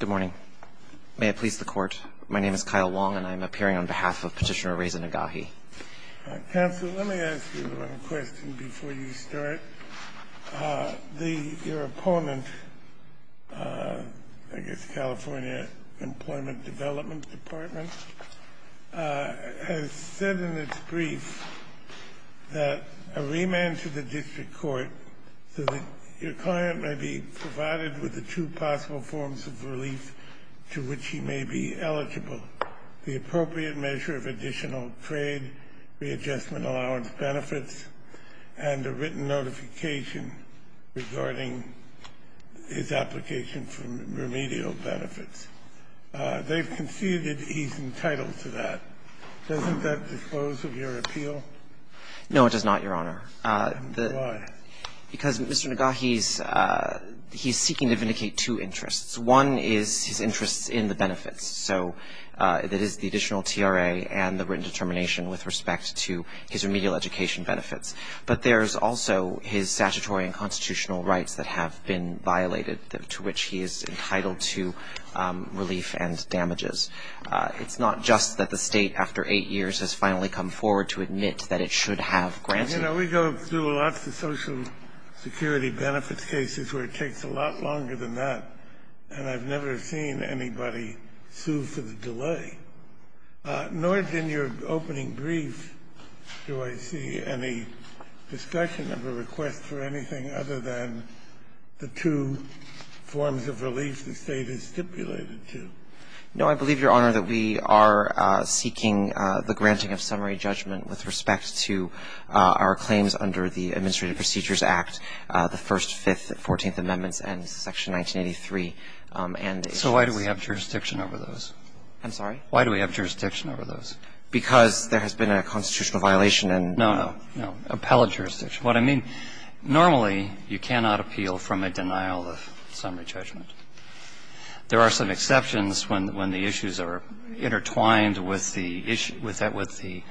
Good morning. May it please the court, my name is Kyle Wong, and I'm appearing on behalf of Petitioner Reza Nagahi. Counsel, let me ask you a question before you start. Your opponent, I guess California Employment Development Department, has said in its brief that a remand to the district court so your client may be provided with the two possible forms of relief to which he may be eligible, the appropriate measure of additional trade readjustment allowance benefits, and a written notification regarding his application for remedial benefits. They've conceded he's entitled to that. Doesn't that disclose of your appeal? No, it does not, Your Honor. Why? Because Mr. Nagahi's he's seeking to vindicate two interests. One is his interest in the benefits, so that is the additional TRA and the written determination with respect to his remedial education benefits. But there's also his statutory and constitutional rights that have been violated, to which he is entitled to relief and damages. It's not just that the State, after 8 years, has finally come forward to admit that it should have granted. You know, we go through lots of Social Security benefits cases where it takes a lot longer than that, and I've never seen anybody sue for the delay, nor did in your opening brief do I see any discussion of a request for anything other than the two forms of relief the State has stipulated to. No, I believe, Your Honor, that we are seeking the granting of summary judgment with respect to our claims under the Administrative Procedures Act, the First, Fifth, and Fourteenth Amendments and Section 1983 and the issues. So why do we have jurisdiction over those? I'm sorry? Why do we have jurisdiction over those? Because there has been a constitutional violation and no. No, no. Appellate jurisdiction. What I mean, normally you cannot appeal from a denial of summary judgment. There are some exceptions when the issues are intertwined with the issue, with the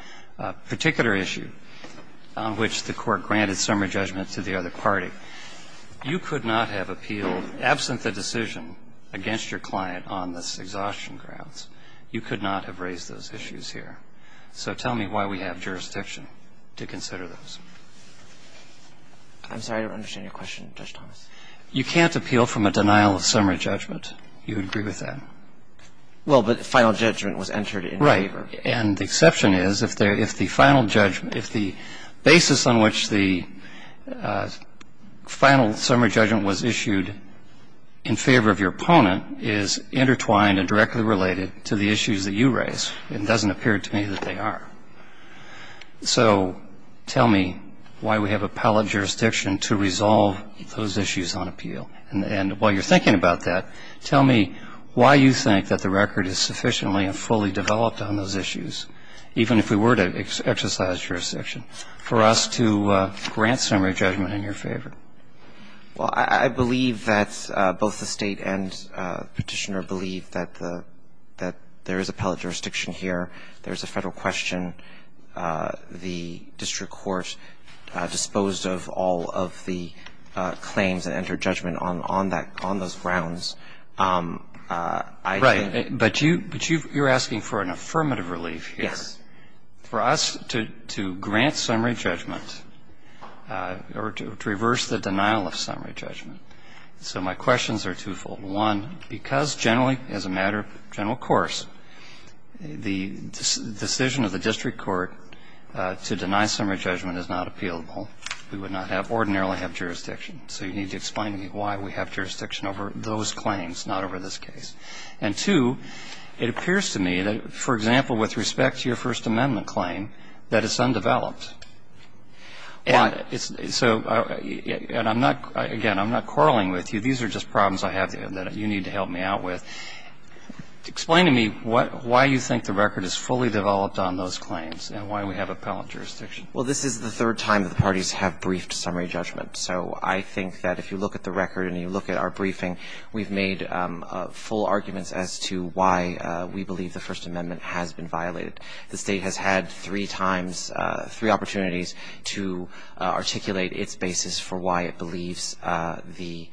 particular issue on which the Court granted summary judgment to the other party. You could not have appealed, absent the decision against your client on this exhaustion grounds, you could not have raised those issues here. So tell me why we have jurisdiction to consider those. I'm sorry, I don't understand your question, Judge Thomas. You can't appeal from a denial of summary judgment. You would agree with that? Well, but final judgment was entered in favor. Right. And the exception is if the final judgment, if the basis on which the final summary judgment was issued in favor of your opponent is intertwined and directly related to the issues that you raise. It doesn't appear to me that they are. So tell me why we have appellate jurisdiction to resolve those issues on appeal. And while you're thinking about that, tell me why you think that the record is sufficiently and fully developed on those issues, even if we were to exercise jurisdiction, for us to grant summary judgment in your favor. Well, I believe that both the State and Petitioner believe that there is appellate jurisdiction here. There's a Federal question. The district court disposed of all of the claims that entered judgment on those grounds. Right. But you're asking for an affirmative relief here. Yes. For us to grant summary judgment or to reverse the denial of summary judgment. So my questions are twofold. One, because generally, as a matter of general course, the decision of the district court to deny summary judgment is not appealable. We would not ordinarily have jurisdiction. So you need to explain to me why we have jurisdiction over those claims, not over this case. And two, it appears to me that, for example, with respect to your First Amendment claim, that it's undeveloped. And so I'm not, again, I'm not quarreling with you. These are just problems I have that you need to help me out with. Explain to me why you think the record is fully developed on those claims and why we have appellate jurisdiction. Well, this is the third time that the parties have briefed summary judgment. So I think that if you look at the record and you look at our briefing, we've made full arguments as to why we believe the First Amendment has been violated. The State has had three times, three opportunities to articulate its basis for why it believes the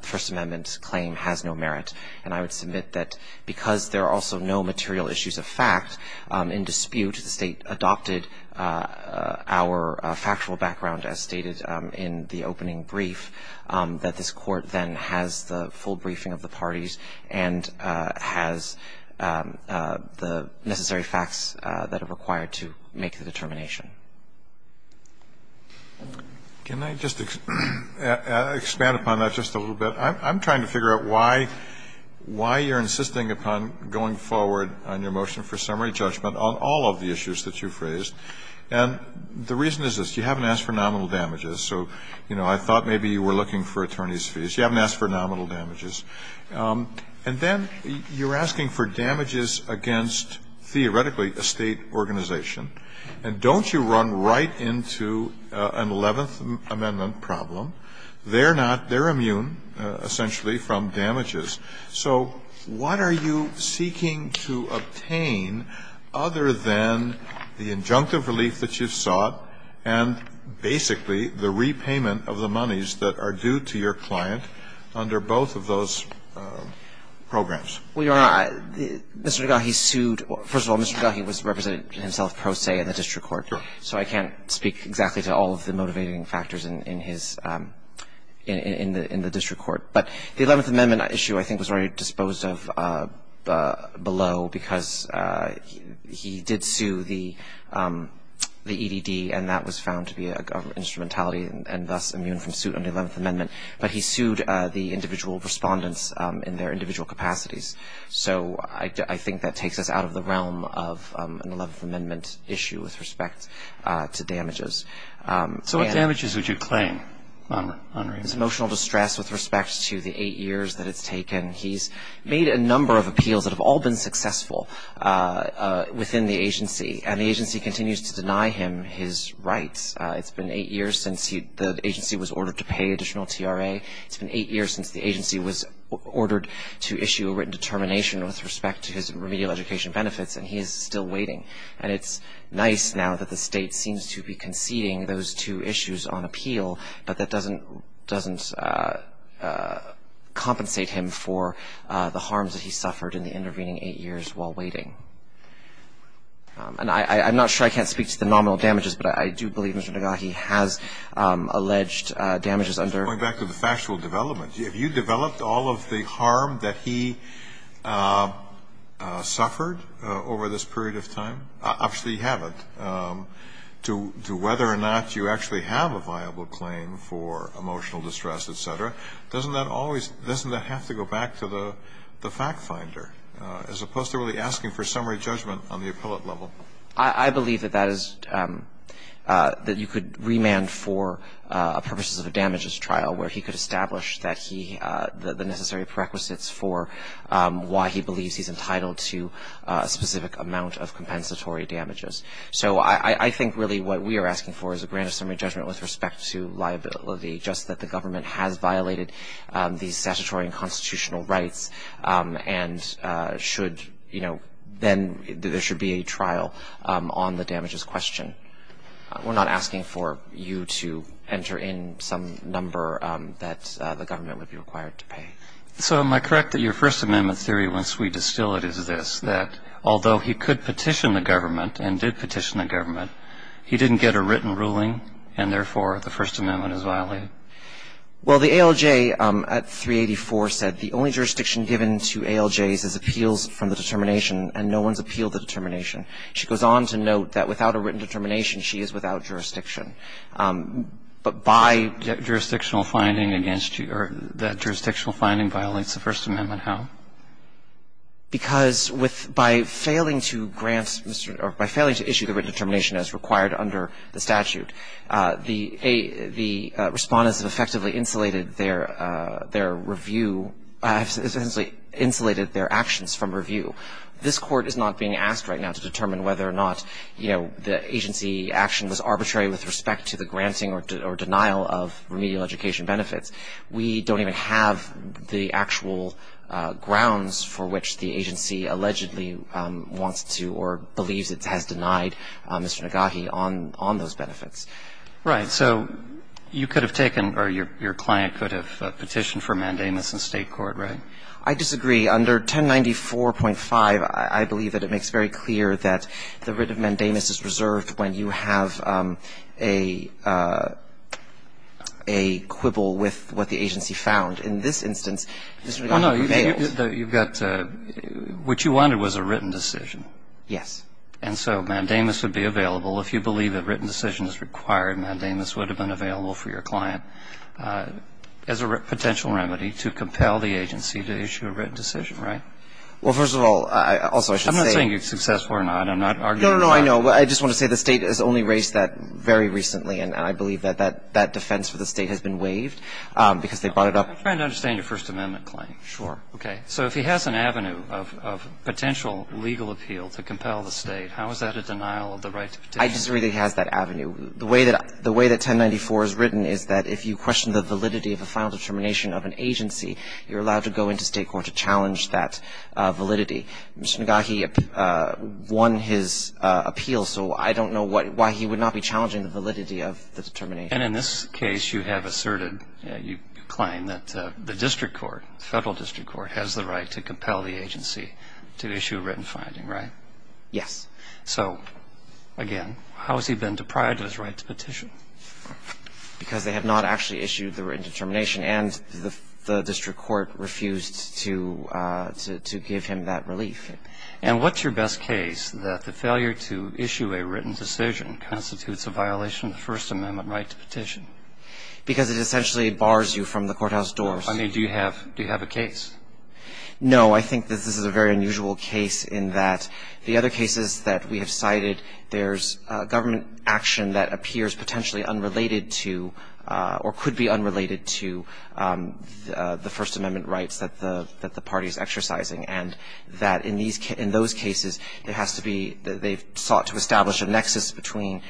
First Amendment's claim has no merit. And I would submit that because there are also no material issues of fact in dispute, the State adopted our factual background as stated in the opening brief, that this Court then has the full briefing of the parties and has the necessary facts that are required to make the determination. Can I just expand upon that just a little bit? I'm trying to figure out why you're insisting upon going forward on your motion for summary judgment on all of the issues that you've raised. And the reason is this. You haven't asked for nominal damages. So, you know, I thought maybe you were looking for attorneys' fees. You haven't asked for nominal damages. And then you're asking for damages against, theoretically, a State organization. And don't you run right into an Eleventh Amendment problem? They're not – they're immune, essentially, from damages. So what are you seeking to obtain other than the injunctive relief that you've sought and basically the repayment of the monies that are due to your client under both of those programs? Well, Your Honor, Mr. Tagahi sued – first of all, Mr. Tagahi was representing himself pro se in the district court. So I can't speak exactly to all of the motivating factors in his – in the district court. But the Eleventh Amendment issue, I think, was already disposed of below because he did sue the EDD, and that was found to be an instrumentality and thus immune from suit under the Eleventh Amendment. But he sued the individual respondents in their individual capacities. So I think that takes us out of the realm of an Eleventh Amendment issue with respect to damages. So what damages would you claim, Your Honor? Emotional distress with respect to the eight years that it's taken. He's made a number of appeals that have all been successful within the agency. And the agency continues to deny him his rights. It's been eight years since he – the agency was ordered to pay additional TRA. It's been eight years since the agency was ordered to issue a written determination with respect to his remedial education benefits, and he is still waiting. And it's nice now that the State seems to be conceding those two issues on appeal, but that doesn't compensate him for the harms that he suffered in the intervening eight years while waiting. And I'm not sure I can't speak to the nominal damages, but I do believe Mr. Nagahi has alleged damages under – Going back to the factual development, have you developed all of the harm that he suffered over this period of time? Obviously, you haven't. To whether or not you actually have a viable claim for emotional distress, et cetera, doesn't that always – doesn't that have to go back to the fact that he's entitled to a grant of summary judgment on the appellate level? I believe that that is – that you could remand for purposes of a damages trial where he could establish that he – the necessary prerequisites for why he believes he's entitled to a specific amount of compensatory damages. So I think really what we are asking for is a grant of summary judgment with respect to liability, just that the government has violated the statutory and then there should be a trial on the damages question. We're not asking for you to enter in some number that the government would be required to pay. So am I correct that your First Amendment theory, once we distill it, is this, that although he could petition the government and did petition the government, he didn't get a written ruling and, therefore, the First Amendment is violated? Well, the ALJ at 384 said, that the only jurisdiction given to ALJs is appeals from the determination and no one's appealed the determination. She goes on to note that without a written determination, she is without jurisdiction. But by – Jurisdictional finding against you – or that jurisdictional finding violates the First Amendment, how? Because with – by failing to grant – or by failing to issue the written determination as required under the statute, the – the Respondents have effectively insulated their – their review – essentially insulated their actions from review. This Court is not being asked right now to determine whether or not, you know, the agency action was arbitrary with respect to the granting or denial of remedial education benefits. We don't even have the actual grounds for which the agency allegedly wants to or believes it has denied Mr. Nagahi on – on those benefits. Right. So you could have taken – or your – your client could have petitioned for mandamus in State court, right? I disagree. Under 1094.5, I believe that it makes very clear that the writ of mandamus is reserved when you have a – a quibble with what the agency found. In this instance, Mr. Nagahi prevailed. Well, no. You've got – what you wanted was a written decision. Yes. And so mandamus would be available. If you believe a written decision is required, mandamus would have been available for your client as a potential remedy to compel the agency to issue a written decision, right? Well, first of all, I – also, I should say – I'm not saying you're successful or not. I'm not arguing – No, no, no. I know. I just want to say the State has only raised that very recently, and I believe that that – that defense for the State has been waived because they brought it up – I'm trying to understand your First Amendment claim. Sure. Okay. So if he has an avenue of – of potential legal appeal to compel the State, how is that a denial of the right to petition? I disagree that he has that avenue. The way that – the way that 1094 is written is that if you question the validity of a final determination of an agency, you're allowed to go into State court to challenge that validity. Mr. Nagahi won his appeal, so I don't know what – why he would not be challenging the validity of the determination. And in this case, you have asserted – you claim that the district court, the federal district court, has the right to compel the agency to issue a written finding, right? Yes. So, again, how has he been deprived of his right to petition? Because they have not actually issued the written determination, and the district court refused to – to give him that relief. And what's your best case that the failure to issue a written decision constitutes a violation of the First Amendment right to petition? Because it essentially bars you from the courthouse doors. I mean, do you have – do you have a case? No. I think that this is a very unusual case in that the other cases that we have cited, there's government action that appears potentially unrelated to – or could be unrelated to the First Amendment rights that the – that the party is exercising, and that in these – in those cases, it has to be – they've sought to establish a nexus between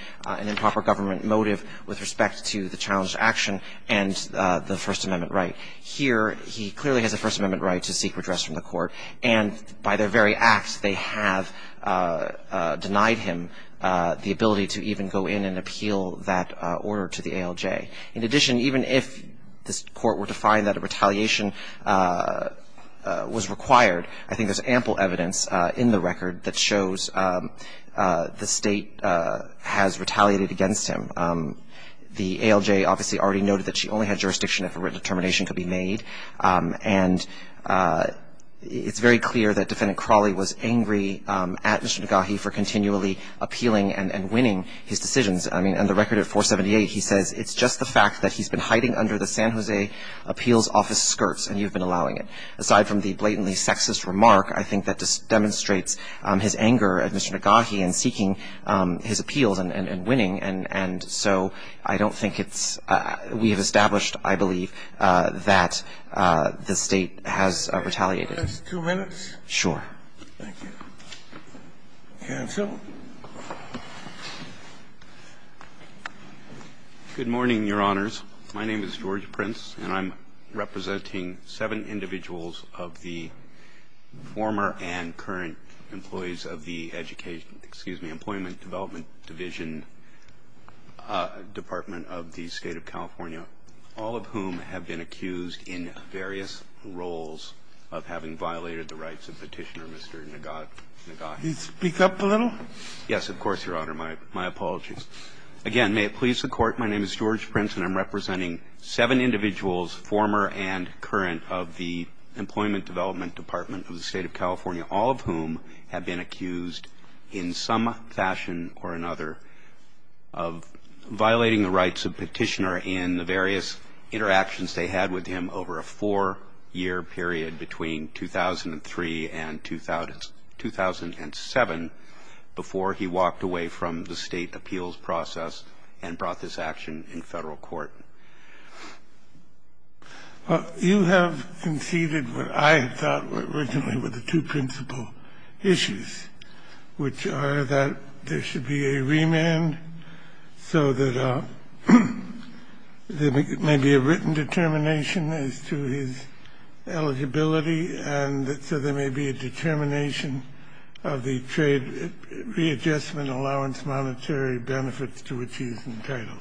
Here, he clearly has a First Amendment right to seek redress from the court, and by their very acts, they have denied him the ability to even go in and appeal that order to the ALJ. In addition, even if this court were to find that a retaliation was required, I think there's ample evidence in the record that shows the State has retaliated against him. The ALJ obviously already noted that she only had jurisdiction if a written determination could be made. And it's very clear that Defendant Crawley was angry at Mr. Negahee for continually appealing and winning his decisions. I mean, in the record at 478, he says, it's just the fact that he's been hiding under the San Jose appeals office skirts, and you've been allowing it. Aside from the blatantly sexist remark, I think that just demonstrates his anger at Mr. Negahee in seeking his appeals and winning. And so I don't think it's we have established, I believe, that the State has retaliated. Two minutes? Sure. Thank you. Counsel? Good morning, Your Honors. My name is George Prince, and I'm representing seven individuals of the former and current employees of the Education, excuse me, Employment Development Division Department of the State of California, all of whom have been accused in various roles of having violated the rights of Petitioner Mr. Negahee. Can you speak up a little? Yes, of course, Your Honor. My apologies. Again, may it please the Court, my name is George Prince, and I'm representing seven individuals former and current of the Employment Development Department of the State of California, all of whom have been accused in some fashion or another of violating the rights of Petitioner in the various interactions they had with him over a four-year period between 2003 and 2007 before he walked away from the State appeals process and brought this action in Federal court. You have conceded what I had thought were originally were the two principal issues, which are that there should be a remand so that there may be a written determination as to his eligibility and so there may be a determination of the trade readjustment allowance monetary benefits to which he is entitled.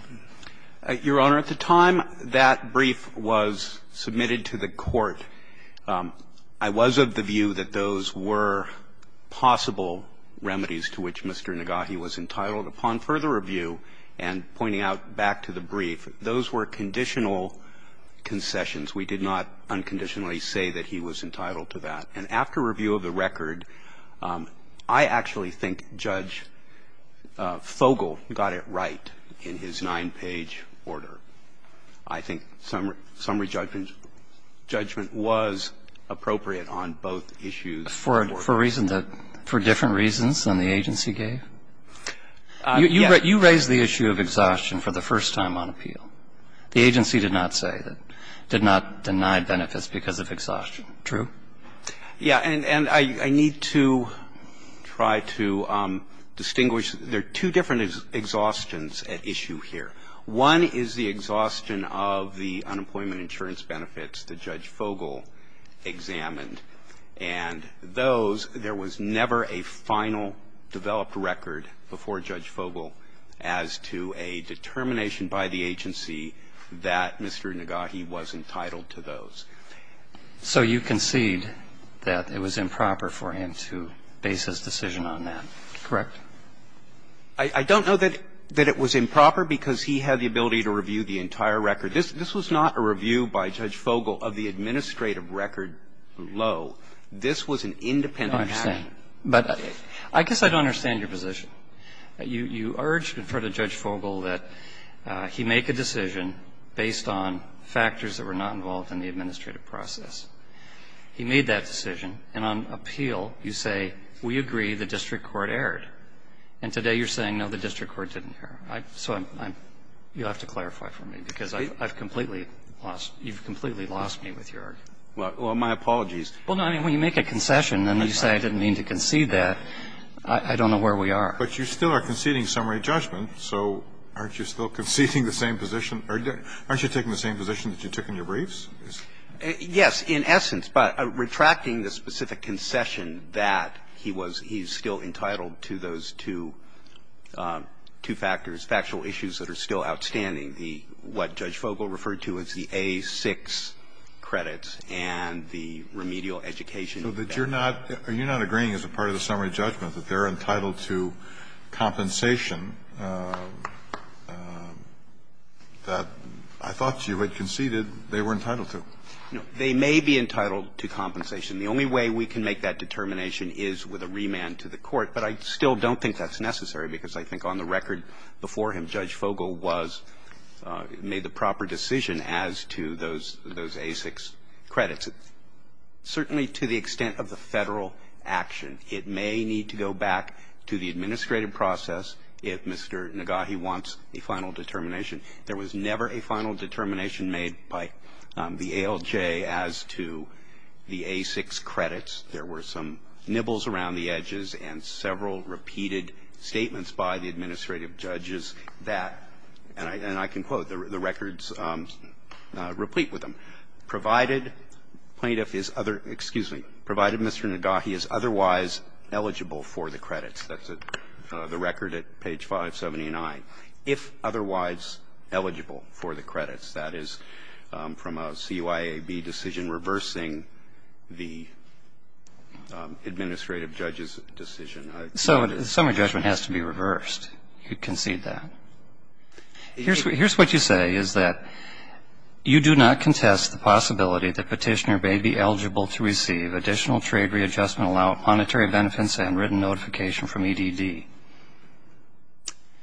Your Honor, at the time that brief was submitted to the Court, I was of the view that those were possible remedies to which Mr. Negahee was entitled. Upon further review and pointing out back to the brief, those were conditional concessions. We did not unconditionally say that he was entitled to that. And after review of the record, I actually think Judge Fogel got it right in his nine-page order. I think summary judgment was appropriate on both issues. For a reason that, for different reasons than the agency gave? Yes. You raised the issue of exhaustion for the first time on appeal. The agency did not say that, did not deny benefits because of exhaustion. True? Yeah. And I need to try to distinguish. There are two different exhaustions at issue here. One is the exhaustion of the unemployment insurance benefits that Judge Fogel examined. And those, there was never a final developed record before Judge Fogel as to a determination by the agency that Mr. Negahee was entitled to those. So you concede that it was improper for him to base his decision on that. Correct. I don't know that it was improper because he had the ability to review the entire record. This was not a review by Judge Fogel of the administrative record below. This was an independent action. I understand. But I guess I don't understand your position. You urged in front of Judge Fogel that he make a decision based on factors that were not involved in the administrative process. He made that decision. And on appeal, you say, we agree the district court erred. And today you're saying, no, the district court didn't err. So I'm, you'll have to clarify for me because I've completely lost, you've completely lost me with your argument. Well, my apologies. Well, no, I mean, when you make a concession and you say I didn't mean to concede that, I don't know where we are. But you still are conceding summary judgment, so aren't you still conceding Aren't you taking the same position that you took in your briefs? Yes, in essence. But retracting the specific concession that he was, he's still entitled to those two, two factors, factual issues that are still outstanding, the, what Judge Fogel referred to as the A-6 credits and the remedial education benefits. So that you're not, you're not agreeing as a part of the summary judgment that they're entitled to that I thought you had conceded they were entitled to. They may be entitled to compensation. The only way we can make that determination is with a remand to the court. But I still don't think that's necessary because I think on the record before him, Judge Fogel was, made the proper decision as to those, those A-6 credits. Certainly to the extent of the Federal action, it may need to go back to the administrative process if Mr. Nagahi wants a final determination. There was never a final determination made by the ALJ as to the A-6 credits. There were some nibbles around the edges and several repeated statements by the administrative judges that, and I can quote, the records replete with them. Provided plaintiff is other, excuse me, provided Mr. Nagahi is otherwise eligible for the credits. That's the record at page 579. If otherwise eligible for the credits, that is from a CUIAB decision reversing the administrative judge's decision. So the summary judgment has to be reversed. You concede that. Here's what you say is that you do not contest the possibility that Petitioner may be eligible to receive additional trade readjustment allowance, monetary notification from EDD.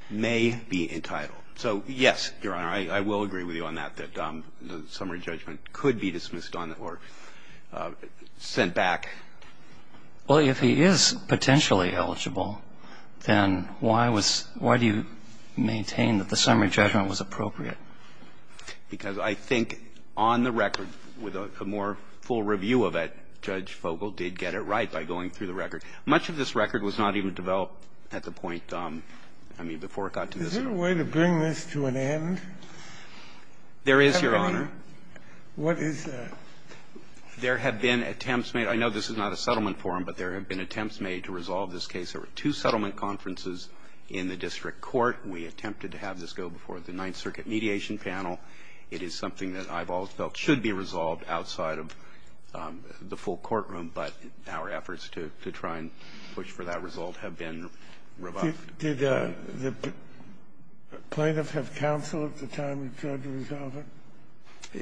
May be entitled. So, yes, Your Honor, I will agree with you on that, that the summary judgment could be dismissed on or sent back. Well, if he is potentially eligible, then why was, why do you maintain that the summary judgment was appropriate? Because I think on the record, with a more full review of it, Judge Fogel did get it right by going through the record. Much of this record was not even developed at the point, I mean, before it got to this Court. Is there a way to bring this to an end? There is, Your Honor. What is there? There have been attempts made. I know this is not a settlement forum, but there have been attempts made to resolve this case. There were two settlement conferences in the district court. We attempted to have this go before the Ninth Circuit mediation panel. It is something that I've always felt should be resolved outside of the full courtroom, but our efforts to try and push for that result have been revoked. Did the plaintiff have counsel at the time he tried to resolve it?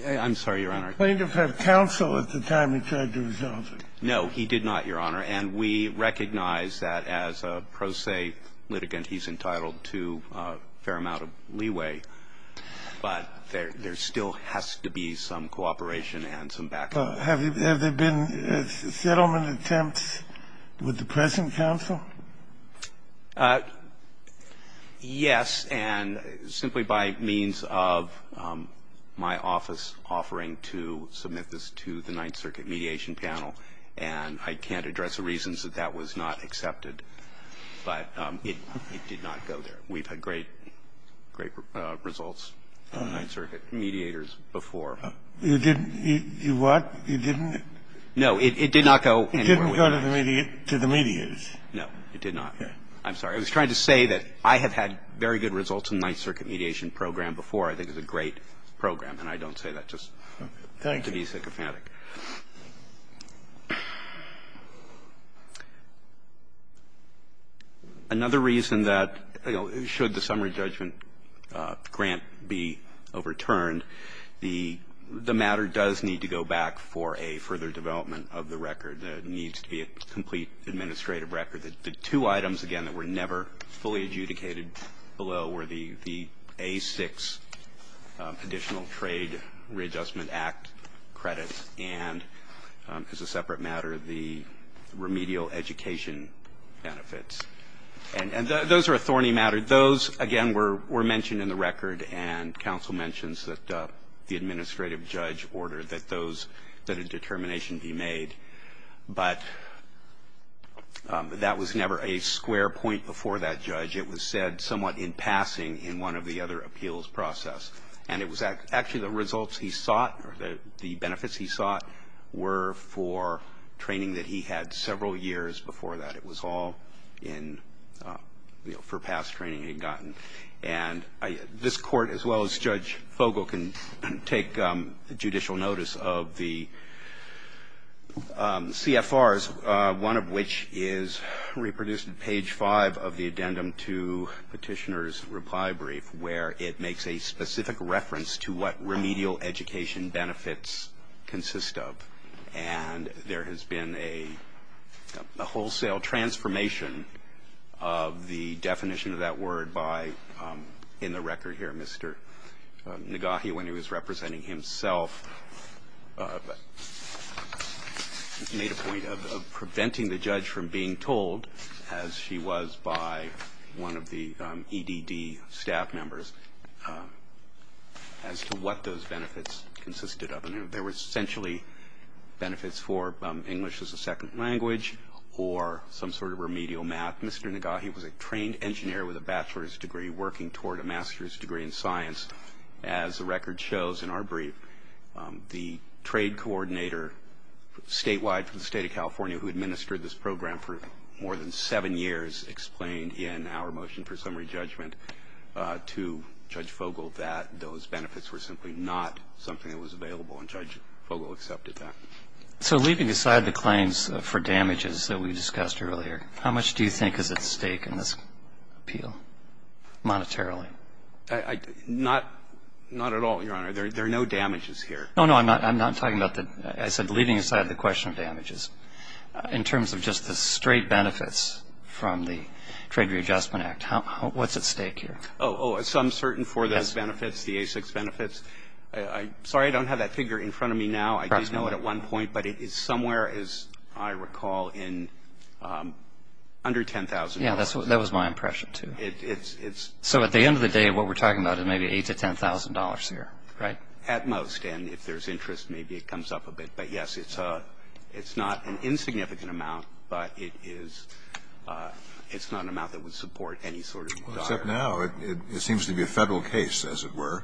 I'm sorry, Your Honor. Did the plaintiff have counsel at the time he tried to resolve it? No, he did not, Your Honor. And we recognize that as a pro se litigant, he's entitled to a fair amount of leeway, but there still has to be some cooperation and some back-up. Have there been settlement attempts with the present counsel? Yes, and simply by means of my office offering to submit this to the Ninth Circuit mediation panel, and I can't address the reasons that that was not accepted. But it did not go there. We've had great, great results from Ninth Circuit mediators before. You didn't do what? You didn't? No, it did not go anywhere. It didn't go to the mediators? No, it did not. I'm sorry. I was trying to say that I have had very good results in the Ninth Circuit mediation program before. I think it's a great program, and I don't say that just to be sycophantic. Another reason that, you know, should the summary judgment grant be overturned, the matter does need to go back for a further development of the record. It needs to be a complete administrative record. The two items, again, that were never fully adjudicated below were the A-6 Additional Trade Readjustment Act credits and, as a separate matter, the remedial education benefits. And those are a thorny matter. Those, again, were mentioned in the record, and counsel mentions that the administrative judge ordered that a determination be made. But that was never a square point before that judge. It was said somewhat in passing in one of the other appeals process. And it was actually the results he sought or the benefits he sought were for training that he had several years before that. It was all in, you know, for past training he had gotten. And this Court, as well as Judge Fogle, can take judicial notice of the CFRs, one of which is reproduced in page 5 of the Addendum to Petitioner's Reply Brief, where it makes a specific reference to what remedial education benefits consist of. And there has been a wholesale transformation of the definition of that word by, in the record here, Mr. Nagahi, when he was representing himself, made a point of preventing the judge from being told, as she was by one of the EDD staff members, as to what those benefits consisted of. And there were essentially benefits for English as a second language or some sort of remedial math. Mr. Nagahi was a trained engineer with a bachelor's degree working toward a master's degree in science. As the record shows in our brief, the trade coordinator statewide from the State of California who administered this program for more than seven years explained in our motion for summary judgment to Judge Fogle that those benefits were simply not something that was available, and Judge Fogle accepted that. So leaving aside the claims for damages that we discussed earlier, how much do you think is at stake in this appeal monetarily? Not at all, Your Honor. There are no damages here. No, no. I'm not talking about the – I said leaving aside the question of damages. In terms of just the straight benefits from the Trade Readjustment Act, what's at stake here? Oh, so I'm certain for those benefits, the ASICs benefits. Sorry, I don't have that figure in front of me now. I did know it at one point, but it is somewhere, as I recall, in under $10,000. Yeah, that was my impression, too. So at the end of the day, what we're talking about is maybe $8,000 to $10,000 here, right? At most. And if there's interest, maybe it comes up a bit. But, yes, it's not an insignificant amount, but it is – it's not an amount that would support any sort of dollar. Except now. It seems to be a Federal case, as it were.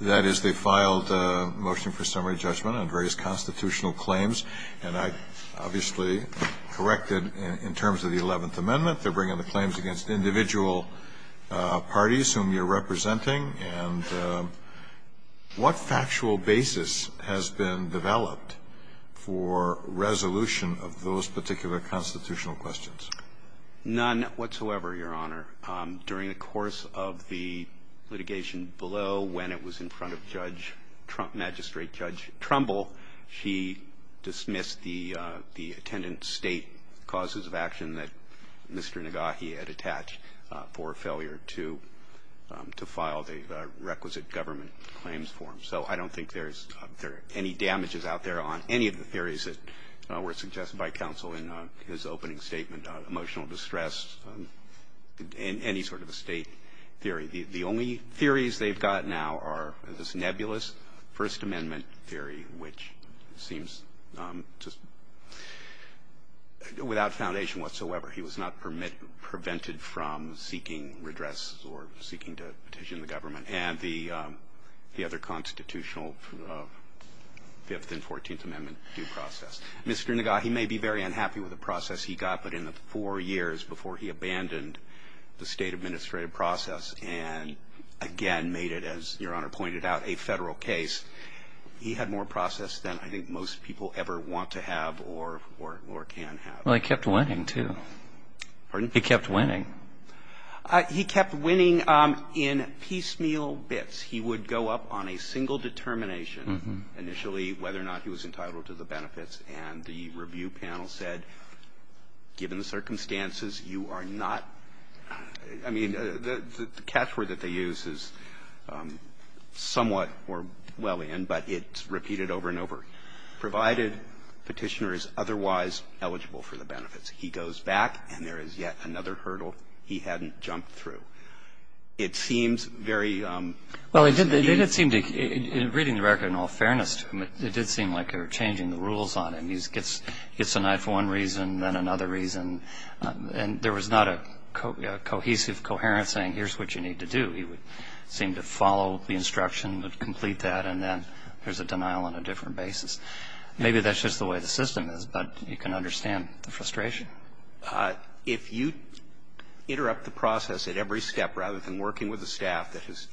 That is, they filed a motion for summary judgment on various constitutional claims, and I obviously corrected in terms of the Eleventh Amendment. They're bringing the claims against individual parties whom you're representing. And what factual basis has been developed for resolution of those particular constitutional questions? None whatsoever, Your Honor. During the course of the litigation below, when it was in front of Judge Trump, Magistrate Judge Trumbull, she dismissed the attendant state causes of action that Mr. Nagahe had attached for failure to file the requisite government claims form. So I don't think there's any damages out there on any of the theories that were in any sort of a state theory. The only theories they've got now are this nebulous First Amendment theory, which seems just without foundation whatsoever. He was not prevented from seeking redress or seeking to petition the government. And the other constitutional Fifth and Fourteenth Amendment due process. Mr. Nagahe may be very unhappy with the process he got, but in the four years before he abandoned the state administrative process and again made it, as Your Honor pointed out, a federal case, he had more process than I think most people ever want to have or can have. Well, he kept winning, too. Pardon? He kept winning. He kept winning in piecemeal bits. He would go up on a single determination initially whether or not he was entitled to the benefits, and the review panel said, given the circumstances, you are not – I mean, the catchword that they use is somewhat or well in, but it's repeated over and over, provided Petitioner is otherwise eligible for the benefits. He goes back and there is yet another hurdle he hadn't jumped through. It seems very – Well, it did seem to – reading the record in all fairness to him, it did seem like they were changing the rules on him. He gets denied for one reason, then another reason, and there was not a cohesive, coherent saying, here's what you need to do. He would seem to follow the instruction, would complete that, and then there's a denial on a different basis. Maybe that's just the way the system is, but you can understand the frustration. If you interrupt the process at every step rather than working with a staff that has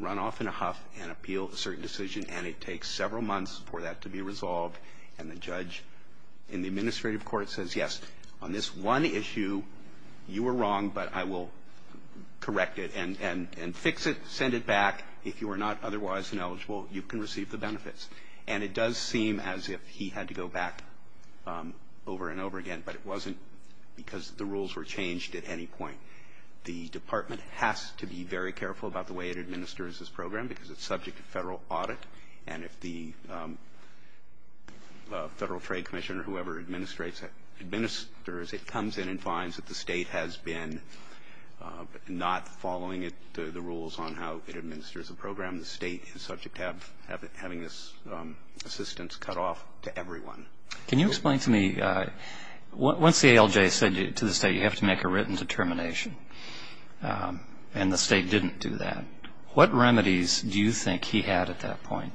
run off in a huff and appealed a certain decision, and it takes several months for that to be resolved, and the judge in the administrative court says, yes, on this one issue, you were wrong, but I will correct it and fix it, send it back. If you are not otherwise ineligible, you can receive the benefits. And it does seem as if he had to go back over and over again, but it wasn't because the rules were changed at any point. The Department has to be very careful about the way it administers this program because it's subject to Federal audit, and if the Federal Trade Commissioner or whoever administers it, it comes in and finds that the State has been not following the rules on how it administers the program. The State is subject to having this assistance cut off to everyone. Can you explain to me, once the ALJ said to the State, you have to make a written determination, and the State didn't do that, what remedies do you think he had at that point?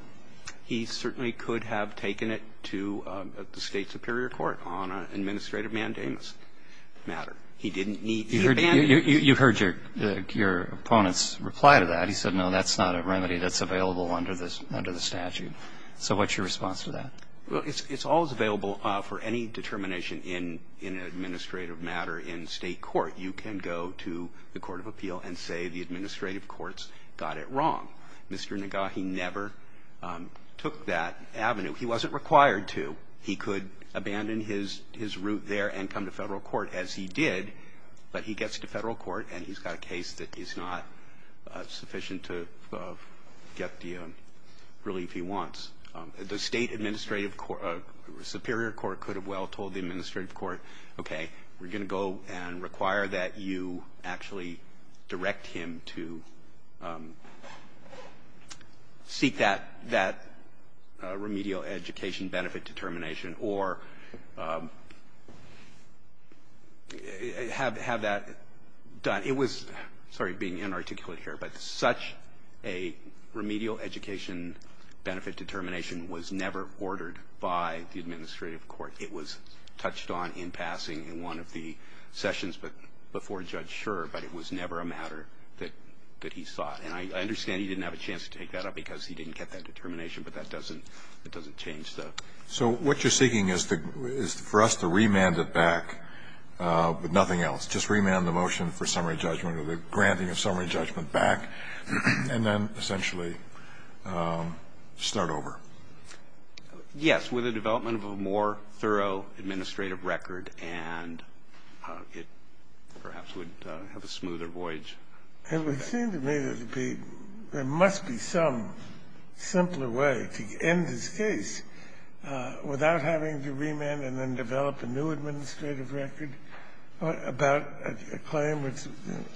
He certainly could have taken it to the State Superior Court on an administrative mandates matter. He didn't need the band-aid. You heard your opponent's reply to that. He said, no, that's not a remedy that's available under the statute. So what's your response to that? Well, it's always available for any determination in an administrative matter in State court. You can go to the court of appeal and say the administrative courts got it wrong. Mr. Nagahi never took that avenue. He wasn't required to. He could abandon his route there and come to Federal court, as he did, but he gets to Federal court and he's got a case that is not sufficient to get the relief he wants. The State administrative court or Superior court could have well told the administrative court, okay, we're going to go and require that you actually direct him to seek that remedial education benefit determination or have that done. It was, sorry, being inarticulate here, but such a remedial education benefit determination was never ordered by the administrative court. It was touched on in passing in one of the sessions, but before Judge Scherer, but it was never a matter that he sought. And I understand he didn't have a chance to take that up because he didn't get that determination, but that doesn't change, though. So what you're seeking is for us to remand it back with nothing else, just remand the motion for summary judgment or the granting of summary judgment back, and then essentially start over. Yes, with the development of a more thorough administrative record, and it perhaps would have a smoother voyage. It would seem to me that it would be, there must be some simpler way to end this case without having to remand and then develop a new administrative record about a claim that's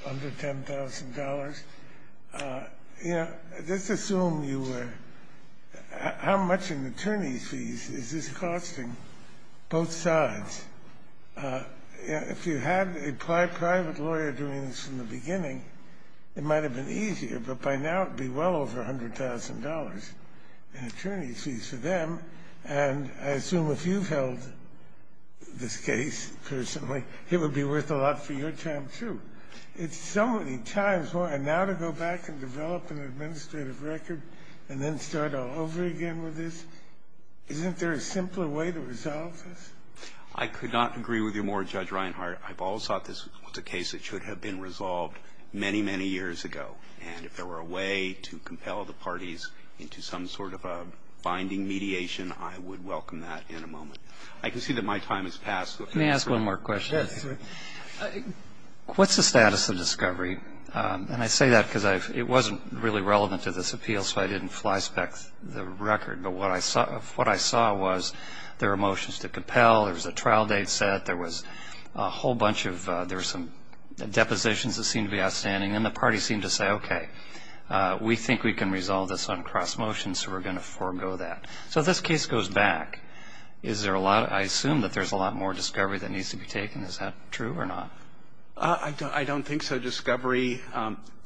under $10,000. You know, just assume you were, how much in attorney's fees is this costing both sides? If you had a private lawyer doing this from the beginning, it might have been easier, but by now it would be well over $100,000 in attorney's fees for them. And I assume if you've held this case personally, it would be worth a lot for your time, too. It's so many times more. And now to go back and develop an administrative record and then start all over again with this, isn't there a simpler way to resolve this? I could not agree with you more, Judge Reinhart. I've always thought this was a case that should have been resolved many, many years ago. And if there were a way to compel the parties into some sort of a binding mediation, I would welcome that in a moment. I can see that my time has passed. Let me ask one more question. Yes. What's the status of discovery? And I say that because it wasn't really relevant to this appeal, so I didn't flyspeck the record. But what I saw was there were motions to compel, there was a trial date set, there was a whole bunch of, there were some depositions that seemed to be outstanding, and the parties seemed to say, okay, we think we can resolve this on cross-motion, so we're going to forego that. So this case goes back. Is there a lot, I assume that there's a lot more discovery that needs to be taken. Is that true or not? I don't think so. Discovery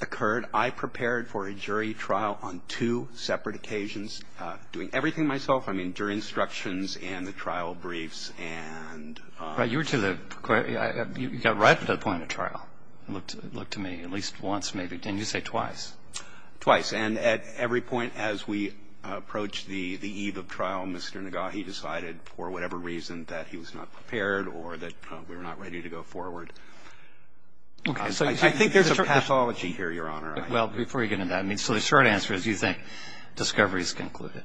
occurred. I prepared for a jury trial on two separate occasions, doing everything myself. I mean, jury instructions and the trial briefs. Right. You were to the, you got right to the point of trial, it looked to me, at least once maybe. Didn't you say twice? Twice. And at every point as we approached the eve of trial, Mr. Nagahi decided for whatever reason that he was not prepared or that we were not ready to go forward. Okay. I think there's a pathology here, Your Honor. Well, before you get into that, I mean, so the short answer is you think discovery is concluded.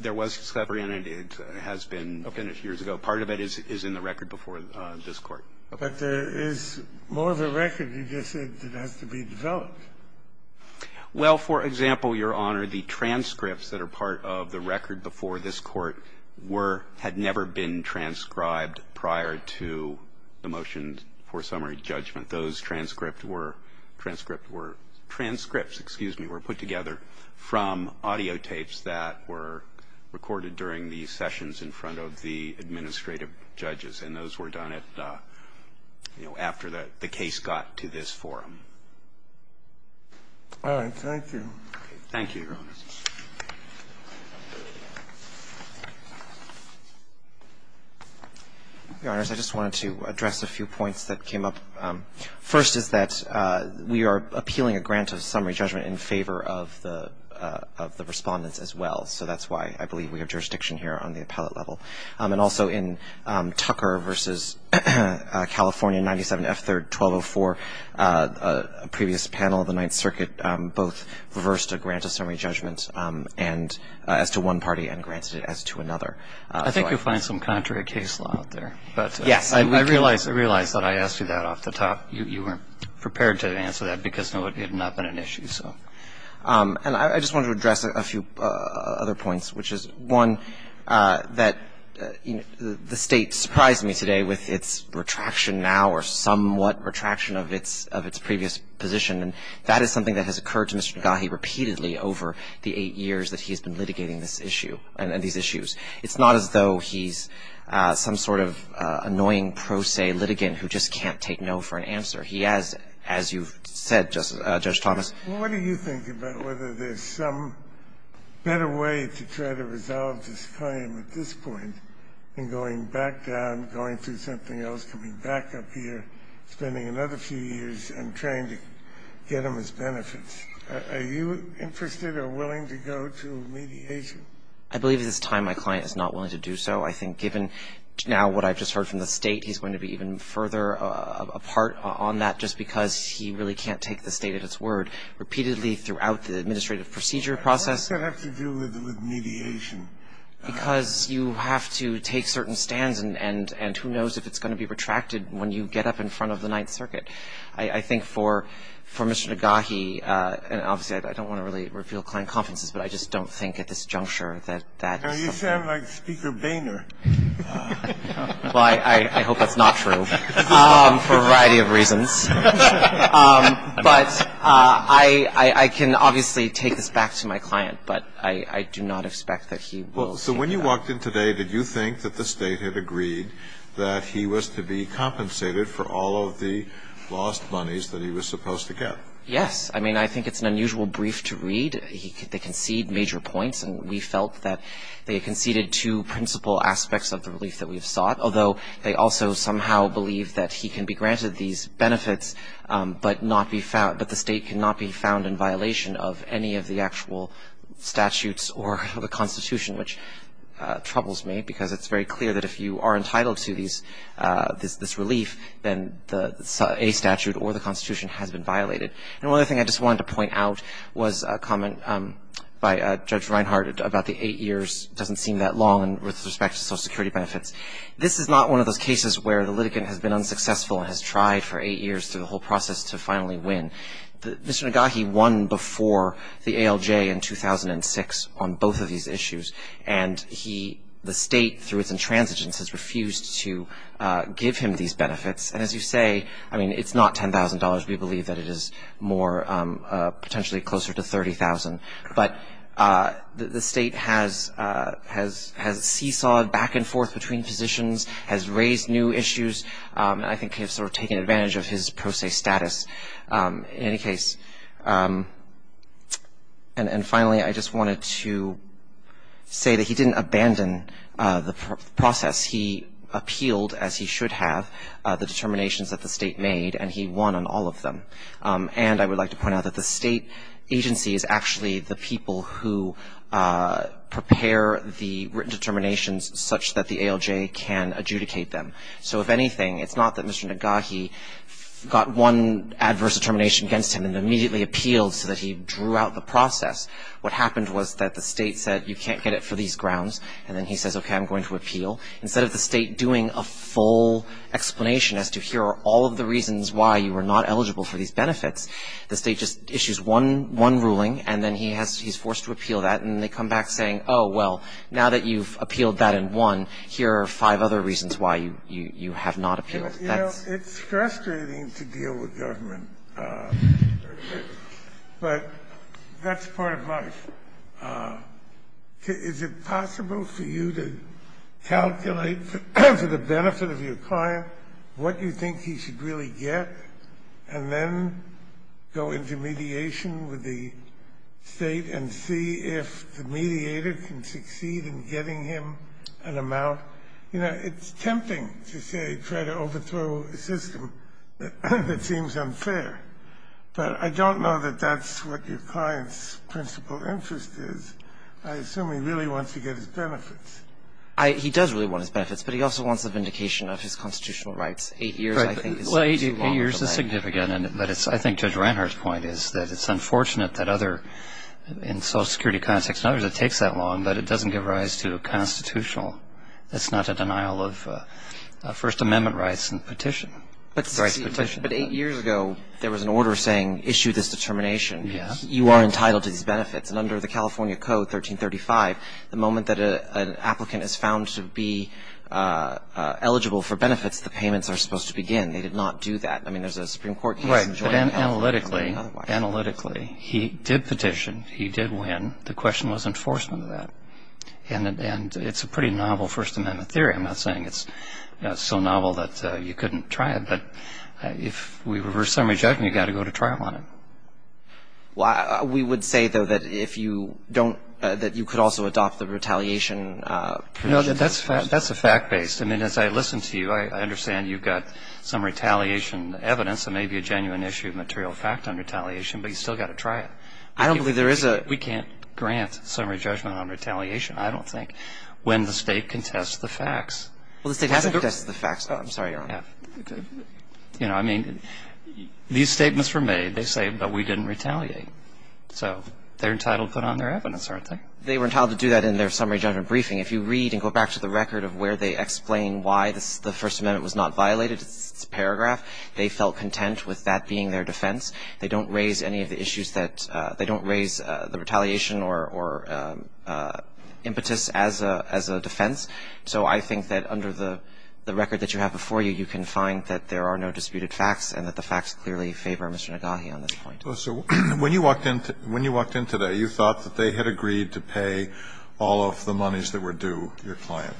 There was discovery in it. It has been a few years ago. Part of it is in the record before this Court. But there is more of the record, you just said, that has to be developed. Well, for example, Your Honor, the transcripts that are part of the record before this Court were, had never been transcribed prior to the motion for summary judgment. Those transcripts were, transcripts were, transcripts, excuse me, were put together from audiotapes that were recorded during the sessions in front of the administrative judges, and those were done at, you know, after the case got to this forum. All right. Thank you. Thank you, Your Honor. Your Honors, I just wanted to address a few points that came up. First is that we are appealing a grant of summary judgment in favor of the, of the Respondents as well. So that's why I believe we have jurisdiction here on the appellate level. And also in Tucker v. California 97F3-1204, a previous panel of the Ninth Circuit both reversed a grant of summary judgment and, as to one party and granted it as to another. I think you'll find some contrary case law out there. Yes. I realize, I realize that I asked you that off the top. You weren't prepared to answer that because it had not been an issue, so. And I just wanted to address a few other points, which is, one, that the State surprised me today with its retraction now or somewhat retraction of its, of its previous position. And that is something that has occurred to Mr. Negahee repeatedly over the eight years that he has been litigating this issue and these issues. It's not as though he's some sort of annoying pro se litigant who just can't take no for an answer. He has, as you've said, Judge Thomas. Well, what do you think about whether there's some better way to try to resolve this claim at this point than going back down, going through something else, coming back up here, spending another few years and trying to get them as benefits? Are you interested or willing to go to mediation? I believe at this time my client is not willing to do so. I think given now what I've just heard from the State, he's going to be even further apart on that just because he really can't take the State at its word repeatedly throughout the administrative procedure process. What does that have to do with mediation? Because you have to take certain stands and who knows if it's going to be retracted when you get up in front of the Ninth Circuit. I think for Mr. Negahee, and obviously I don't want to really reveal client confidences, but I just don't think at this juncture that that's the case. You sound like Speaker Boehner. Well, I hope that's not true for a variety of reasons. But I can obviously take this back to my client, but I do not expect that he will So when you walked in today, did you think that the State had agreed that he was to be compensated for all of the lost monies that he was supposed to get? Yes. I mean, I think it's an unusual brief to read. They concede major points, and we felt that they conceded two principal aspects of the relief that we've sought, although they also somehow believe that he can be granted these benefits but the State cannot be found in violation of any of the actual statutes or the Constitution, which troubles me because it's very clear that if you are entitled to this relief, then a statute or the Constitution has been violated. And one other thing I just wanted to point out was a comment by Judge Reinhardt about the eight years doesn't seem that long with respect to Social Security benefits. This is not one of those cases where the litigant has been unsuccessful and has tried for eight years through the whole process to finally win. Mr. Nagahe won before the ALJ in 2006 on both of these issues, and the State, through its intransigence, has refused to give him these benefits. And as you say, I mean, it's not $10,000. We believe that it is more potentially closer to $30,000. But the State has seesawed back and forth between positions, has raised new issues, and I think has sort of taken advantage of his pro se status in any case. And finally, I just wanted to say that he didn't abandon the process. He appealed, as he should have, the determinations that the State made, and he won on all of them. And I would like to point out that the State agency is actually the people who prepare the written determinations such that the ALJ can adjudicate them. So, if anything, it's not that Mr. Nagahe got one adverse determination against him and immediately appealed so that he drew out the process. What happened was that the State said, you can't get it for these grounds, and then he says, okay, I'm going to appeal. Instead of the State doing a full explanation as to here are all of the reasons why you were not eligible for these benefits, the State just issues one ruling, and then he's forced to appeal that, and then they come back saying, oh, well, now that you've appealed that in one, here are five other reasons why you have not appealed. That's... It's frustrating to deal with government, but that's part of life. Is it possible for you to calculate to the benefit of your client what you think he should really get, and then go into mediation with the State and see if the mediator can succeed in getting him an amount? You know, it's tempting to say try to overthrow a system that seems unfair, but I don't know that that's what your client's principal interest is. I assume he really wants to get his benefits. He does really want his benefits, but he also wants the vindication of his constitutional rights. Eight years, I think, is too long. Well, eight years is significant, but I think Judge Reinhart's point is that it's unfortunate that other, in social security context and others, it takes that long, but it doesn't give rise to a constitutional. That's not a denial of First Amendment rights and petition. But eight years ago, there was an order saying issue this determination. Yes. You are entitled to these benefits, and under the California Code, 1335, the moment that an applicant is found to be eligible for benefits, the payments are supposed to begin. They did not do that. I mean, there's a Supreme Court case. Right. But analytically, he did petition. He did win. The question was enforcement of that. And it's a pretty novel First Amendment theory. I'm not saying it's so novel that you couldn't try it, but if we reverse summary judgment, you've got to go to trial on it. We would say, though, that you could also adopt the retaliation. No, that's a fact-based. I mean, as I listen to you, I understand you've got some retaliation evidence, and maybe a genuine issue of material fact on retaliation, but you've still got to try it. I don't believe there is a ---- We can't grant summary judgment on retaliation, I don't think, when the State contests the facts. Well, the State hasn't contested the facts, though. I'm sorry, Your Honor. You know, I mean, these statements were made. They say, but we didn't retaliate. So they're entitled to put on their evidence, aren't they? They were entitled to do that in their summary judgment briefing. If you read and go back to the record of where they explain why the First Amendment was not violated, it's a paragraph, they felt content with that being their defense. They don't raise any of the issues that ---- they don't raise the retaliation or impetus as a defense. So I think that under the record that you have before you, you can find that there are no disputed facts and that the facts clearly favor Mr. Nagahe on this point. Well, so when you walked in today, you thought that they had agreed to pay all of the monies that were due to your client.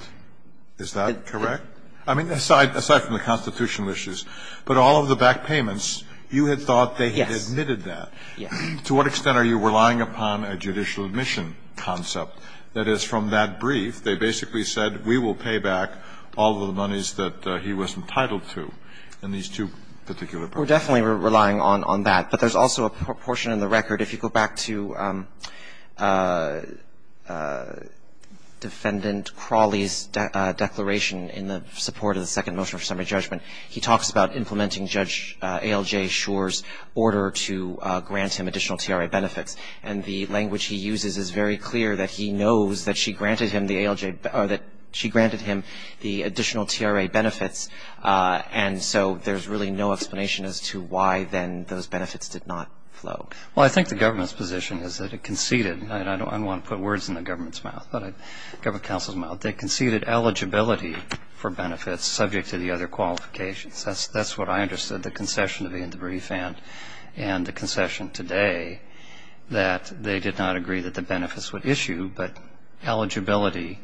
Is that correct? I mean, aside from the constitutional issues, but all of the back payments, you had thought they had admitted that. Yes. To what extent are you relying upon a judicial admission concept? That is, from that brief, they basically said, we will pay back all of the monies that he was entitled to in these two particular briefs. We're definitely relying on that. But there's also a portion in the record, if you go back to Defendant Crawley's declaration in the support of the Second Motion for Summary Judgment, he talks about implementing Judge A.L.J. Schor's order to grant him additional T.R.A. benefits. And the language he uses is very clear that he knows that she granted him the A.L.J. or that she granted him the additional T.R.A. benefits, and so there's really no explanation as to why then those benefits did not flow. Well, I think the government's position is that it conceded, and I don't want to put words in the government's mouth, but government counsel's mouth, they conceded eligibility for benefits subject to the other qualifications. That's what I understood the concession to be in the brief and the concession today, that they did not agree that the benefits would issue, but eligibility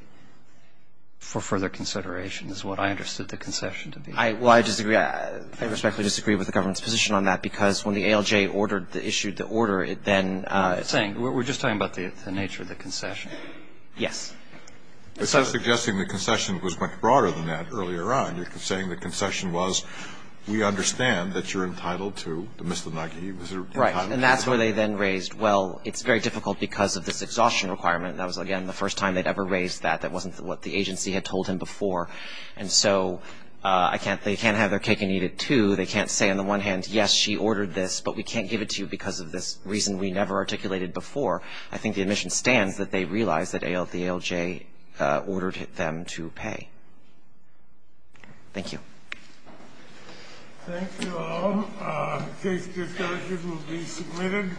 for further consideration is what I understood the concession to be. Well, I disagree. I respectfully disagree with the government's position on that, because when the A.L.J. issued the order, it then ---- We're just talking about the nature of the concession. Yes. It's not suggesting the concession was much broader than that earlier on. You're saying the concession was, we understand that you're entitled to the mistletoe. Right. And that's where they then raised, well, it's very difficult because of this exhaustion requirement. That was, again, the first time they'd ever raised that. That wasn't what the agency had told him before. And so I can't ---- they can't have their cake and eat it, too. They can't say on the one hand, yes, she ordered this, but we can't give it to you because of this reason we never articulated before. I think the admission stands that they realize that the A.L.J. ordered them to pay. Thank you. Thank you all. Case discussion will be submitted.